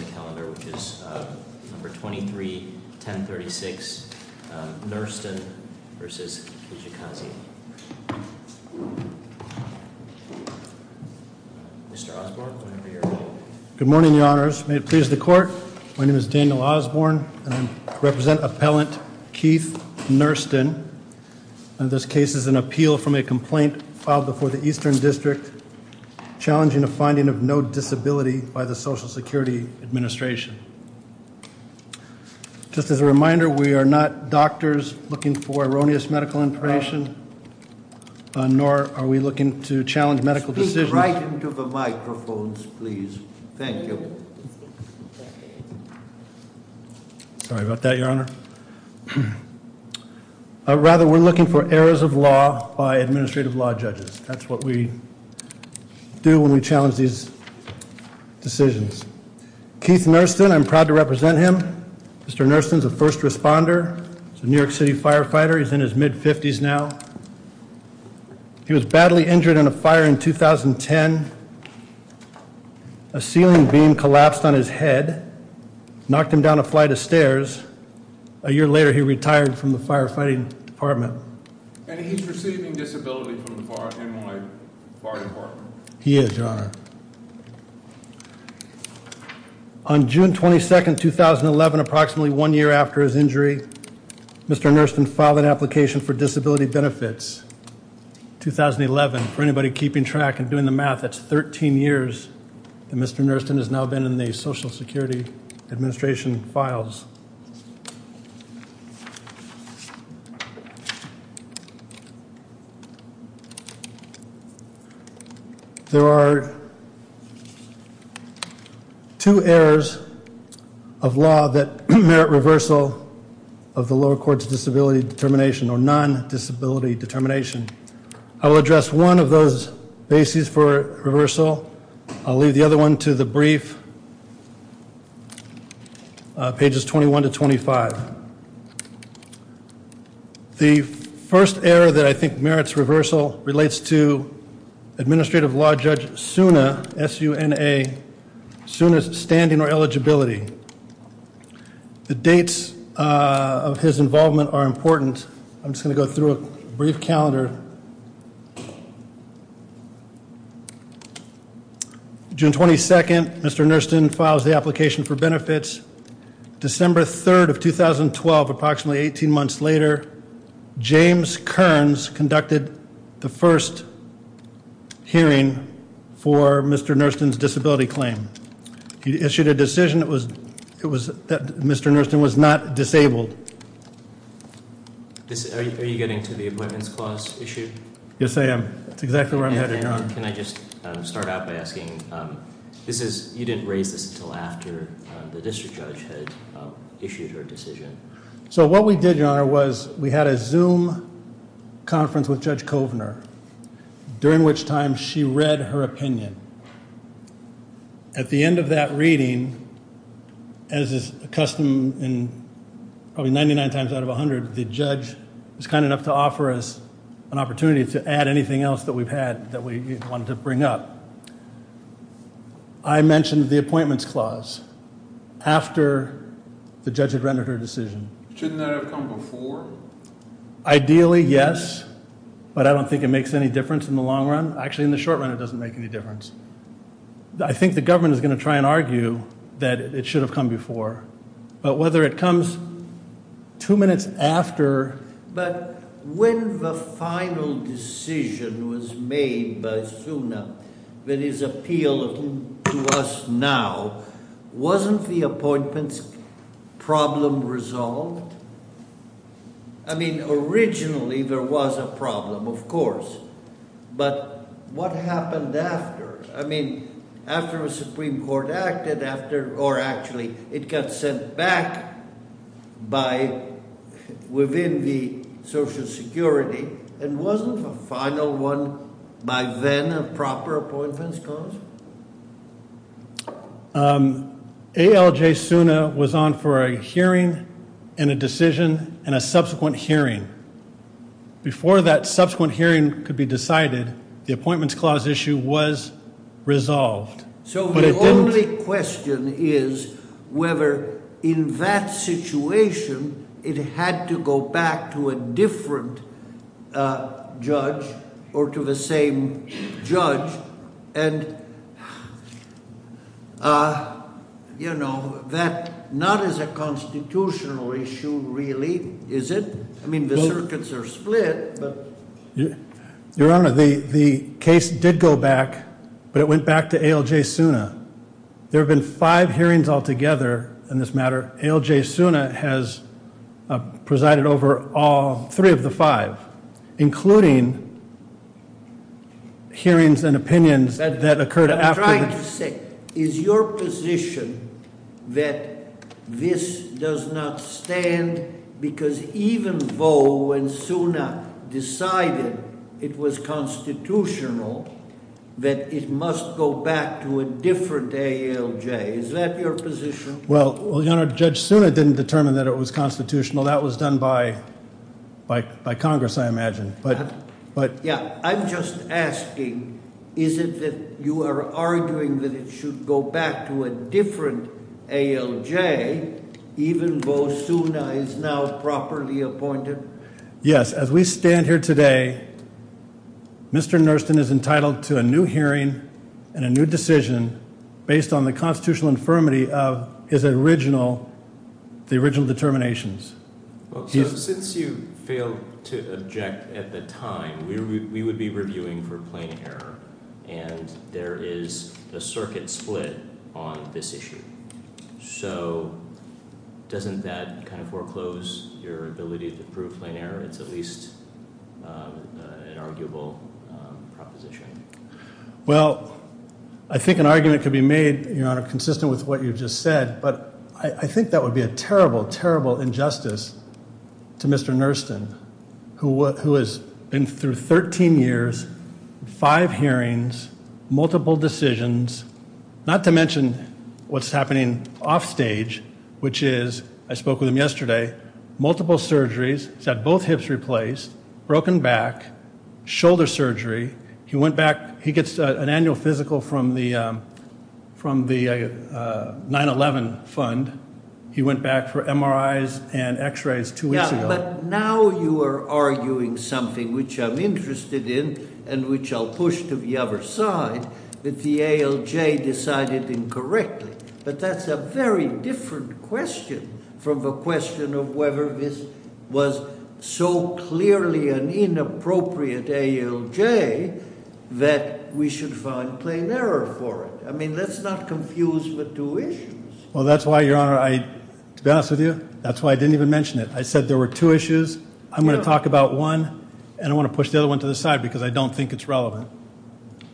Good morning, your honors. May it please the court, my name is Daniel Osborne and I represent appellant Keith Nursten. This case is an appeal from a complaint filed before the Eastern District challenging a finding of no disability by the Social Security Administration. Just as a reminder, we are not doctors looking for erroneous medical information, nor are we looking to challenge medical decisions. Speak right into the microphones, please. Thank you. Sorry about that, your honor. Rather, we're looking for errors of law by administrative law judges. That's what we do when we challenge these decisions. Keith Nursten, I'm proud to represent him. Mr. Nursten's a first responder, a New York City firefighter. He's in his mid-50s now. He was badly injured in a fire in 2010. A ceiling beam collapsed on his head, knocked him down a flight of stairs. A year later he retired from the firefighting department. And he's receiving disability from the fire department. He is, your honor. On June 22nd, 2011, approximately one year after his injury, Mr. Nursten filed an application for disability benefits. 2011, for anybody keeping track and doing the math, that's 13 years that Mr. Nursten has now been in the department. There are two errors of law that merit reversal of the lower court's disability determination or non-disability determination. I will address one of those bases for reversal. I'll merits reversal relates to Administrative Law Judge Suna, S-U-N-A, Suna's standing or eligibility. The dates of his involvement are important. I'm just going to go through a brief calendar. June 22nd, Mr. Nursten files the application for benefits. December 3rd of 2012, approximately 18 months later, James Kearns conducted the first hearing for Mr. Nursten's disability claim. He issued a decision that Mr. Nursten was not disabled. Are you getting to the Appointments Clause issue? Yes, I am. That's exactly where I'm heading on. Can I just start out by asking, this is, you didn't raise this until after the hearing. We had a Zoom conference with Judge Kovner, during which time she read her opinion. At the end of that reading, as is custom, probably 99 times out of 100, the judge was kind enough to offer us an opportunity to add anything else that we've had that we wanted to bring up. I mentioned the Ideally, yes, but I don't think it makes any difference in the long run. Actually, in the short run, it doesn't make any difference. I think the government is going to try and argue that it should have come before. But whether it comes two minutes after... But when the final decision was made by Suna that is appealing to us now, wasn't the I mean, originally, there was a problem, of course. But what happened after? I mean, after the Supreme Court acted, after, or actually, it got sent back by, within the Social Security, and wasn't the final one, by then, a proper Appointments Clause? ALJ Suna was on for a hearing, and a decision, and a subsequent hearing. Before that subsequent hearing could be decided, the Appointments Clause issue was resolved. So the only question is whether, in that And, you know, that not as a constitutional issue, really, is it? I mean, the circuits are split, but... Your Honor, the case did go back, but it went back to ALJ Suna. There have been five hearings altogether in this matter. ALJ Suna has presided over all three of the five, including hearings and opinions that occurred after... I'm trying to say, is your position that this does not stand, because even though when Suna decided it was constitutional, that it must go back to a different ALJ? Is that your position? Well, Your Honor, Judge Suna didn't determine that it was constitutional. That was done by Congress, I imagine. But... Yeah, I'm just asking, is it that you are arguing that it should go back to a different ALJ, even though Suna is now properly appointed? Yes, as we stand here is the original determinations. Since you failed to object at the time, we would be reviewing for plain error, and there is a circuit split on this issue. So doesn't that kind of foreclose your ability to prove plain error? It's at least an arguable proposition. Well, I think an argument could be made, Your Honor, consistent with what you've just said, but I think that would be a terrible, terrible injustice to Mr. Nerston, who has been through 13 years, five hearings, multiple decisions, not to mention what's happening offstage, which is, I spoke with him yesterday, multiple surgeries, he's had both hips replaced, broken back, shoulder surgery, he went back, he gets an annual physical from the 9-11 fund, he went back for MRIs and x-rays two weeks ago. Yeah, but now you are arguing something which I'm interested in, and which I'll push to the other side, that the ALJ decided incorrectly, but that's a very different question from the question of whether this was so clearly an inappropriate ALJ that we should find plain error for it. I mean, let's not confuse the two issues. Well, that's why, Your Honor, to be honest with you, that's why I didn't even mention it. I said there were two issues, I'm going to talk about one, and I want to push the other one to the side because I don't think it's relevant.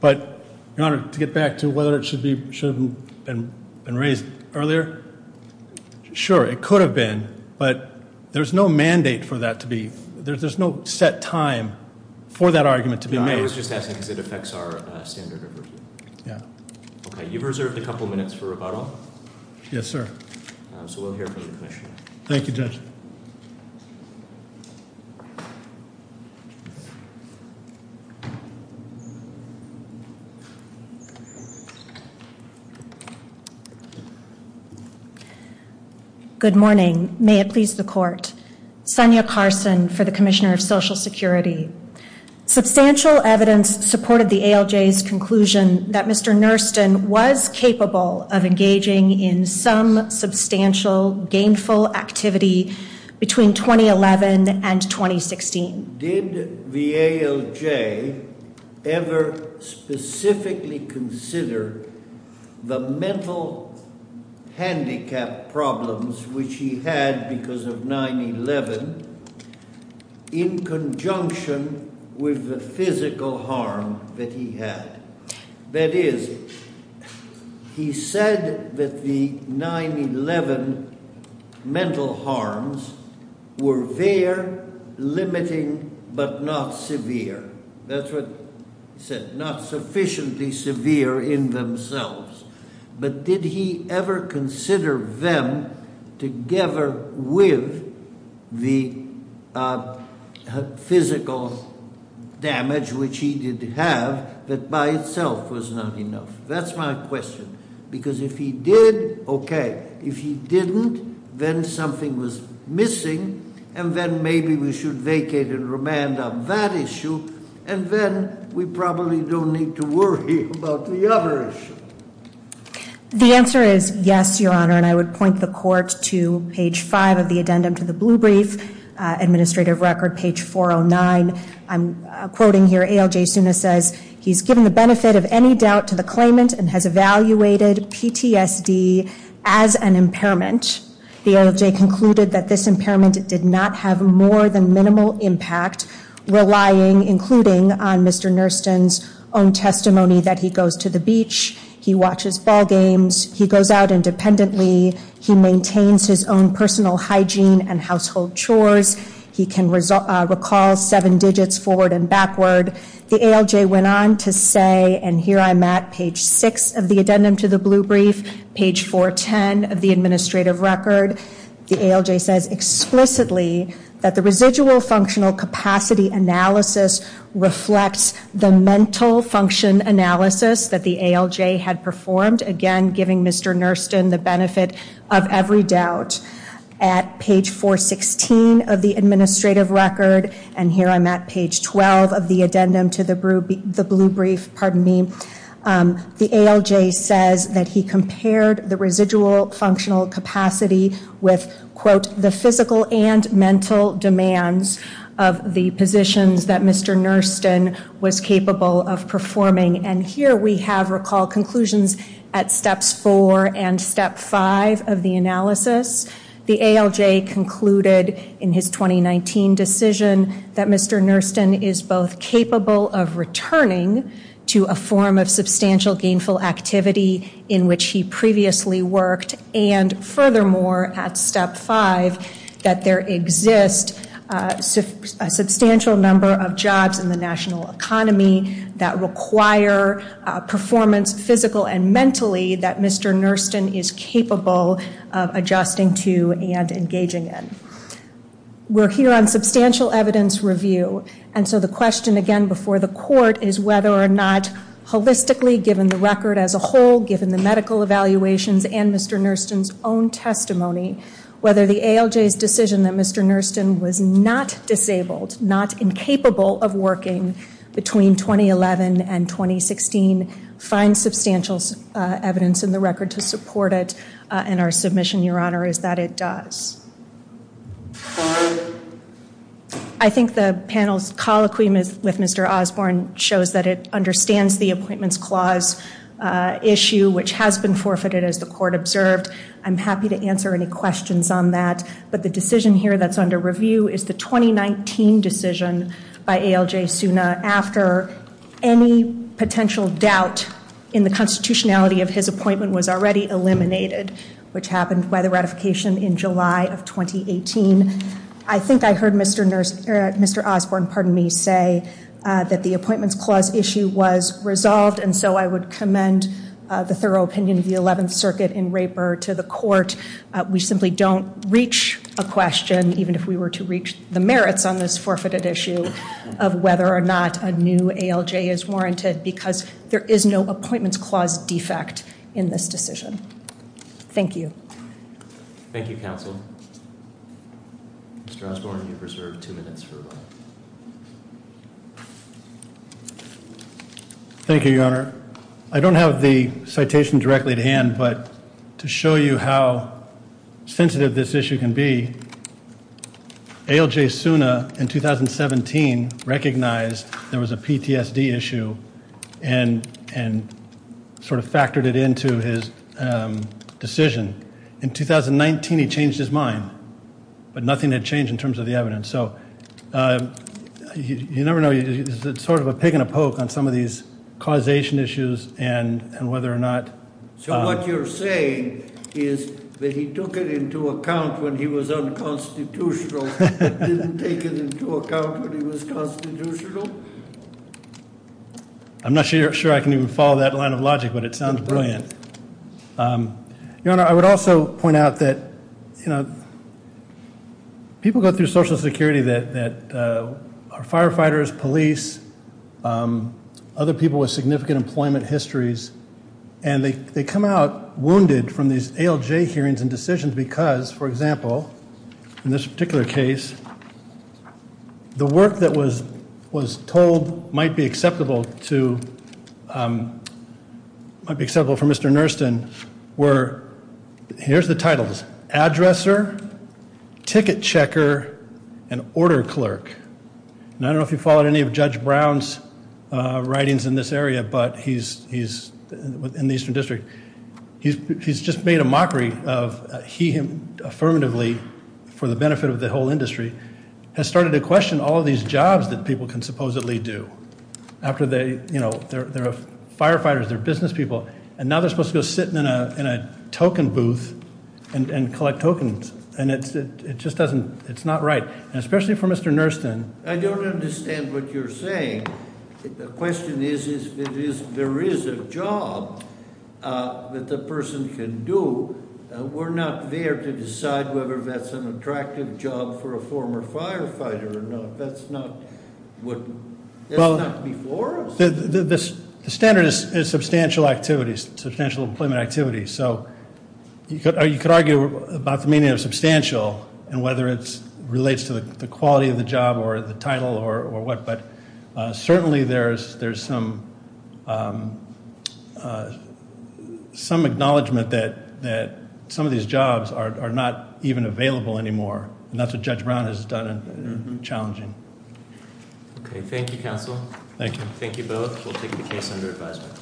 But, Your Honor, to get back to whether it should have been raised earlier, sure, it could have been, but there's no mandate for that to be, there's no set time for that argument to be made. I was just asking because it affects our standard of review. Yeah. Okay, you've reserved a couple minutes for rebuttal. Yes, sir. So we'll hear from the Commissioner. Thank you, Judge. Good morning. May it please the Court. Sonia Carson for the Commissioner of Social Security. Substantial evidence supported the ALJ's conclusion that Mr. Nurston was capable of engaging in some substantial, gainful activity between 2011 and 2016. Did the ALJ ever specifically consider the mental handicap problems which he had because of 9-11 in conjunction with the physical harm that he had? That is, he said that the 9-11 mental harms were there, limiting, but not severe. That's what he said, not sufficiently severe in themselves. But did he ever consider them together with the physical damage which he did have, that by itself was not enough? That's my question, because if he did, okay. And then maybe we should vacate and remand on that issue, and then we probably don't need to worry about the other issue. The answer is yes, Your Honor, and I would point the Court to page 5 of the addendum to the Blue Brief Administrative Record, page 409. I'm quoting here, ALJ Suna says, he's given the benefit of any doubt to the claimant and has evaluated PTSD as an impairment. The ALJ concluded that this impairment did not have more than minimal impact, relying, including, on Mr. Nurston's own testimony that he goes to the beach, he watches ball games, he goes out independently, he maintains his own personal hygiene and household chores, he can recall seven digits forward and backward. The ALJ went on to say, and here I'm at, page 6 of the addendum to the Blue Brief, page 410 of the Administrative Record. The ALJ says explicitly that the residual functional capacity analysis reflects the mental function analysis that the ALJ had performed, again, giving Mr. Nurston the benefit of every doubt. At page 416 of the Administrative Record, and here I'm at, page 12 of the addendum to the Blue Brief, the ALJ says that he compared the residual functional capacity with, quote, The ALJ concluded in his 2019 decision that Mr. Nurston is both capable of returning to a form of substantial gainful activity in which he previously worked, and furthermore, at step five, that there exists a substantial number of jobs in the national economy that require performance, physical and mentally, that Mr. Nurston is capable of adjusting to and engaging in. We're here on substantial evidence review, and so the question, again, before the court is whether or not holistically, given the record as a whole, given the medical evaluations and Mr. Nurston's own testimony, whether the ALJ's decision that Mr. Nurston was not disabled, not incapable of working between 2011 and 2016, find substantial evidence in the record to support it, and our submission, Your Honor, is that it does. I think the panel's colloquy with Mr. Osborne shows that it understands the Appointments Clause issue, which has been forfeited as the court observed. I'm happy to answer any questions on that, but the decision here that's under review is the 2019 decision by ALJ Suna after any potential doubt in the constitutionality of his appointment was already eliminated, which happened by the ratification in July of 2018. I think I heard Mr. Osborne, pardon me, say that the Appointments Clause issue was resolved, and so I would commend the thorough opinion of the 11th Circuit in Raper to the court. We simply don't reach a question, even if we were to reach the merits on this forfeited issue, of whether or not a new ALJ is warranted, because there is no Appointments Clause defect in this decision. Thank you. Thank you, counsel. Mr. Osborne, you've reserved two minutes for rebuttal. I don't have the citation directly at hand, but to show you how sensitive this issue can be, ALJ Suna in 2017 recognized there was a PTSD issue and sort of factored it into his decision. In 2019, he changed his mind, but nothing had changed in terms of the evidence. So you never know, it's sort of a pick and a poke on some of these causation issues and whether or not- So what you're saying is that he took it into account when he was unconstitutional, but didn't take it into account when he was constitutional? I'm not sure I can even follow that line of logic, but it sounds brilliant. Your Honor, I would also point out that people go through Social Security that are firefighters, police, other people with significant employment histories, and they come out wounded from these ALJ hearings and decisions because, for example, in this particular case, the work that was told might be acceptable for Mr. Nersten were- Here's the titles. Addresser, Ticket Checker, and Order Clerk. And I don't know if you followed any of Judge Brown's writings in this area, but he's in the Eastern District. He's just made a mockery of he, him, affirmatively, for the benefit of the whole industry, has started to question all of these jobs that people can supposedly do after they, you know, they're firefighters, they're business people. And now they're supposed to go sit in a token booth and collect tokens, and it just doesn't, it's not right. Especially for Mr. Nersten. I don't understand what you're saying. The question is, is there is a job that the person can do. We're not there to decide whether that's an attractive job for a former firefighter or not. That's not what, that's not before us. The standard is substantial activities, substantial employment activities. So you could argue about the meaning of substantial and whether it relates to the quality of the job or the title or what. But certainly there's some acknowledgment that some of these jobs are not even available anymore. And that's what Judge Brown has done, and challenging. Okay, thank you, counsel. Thank you. Thank you both. We'll take the case under advisement.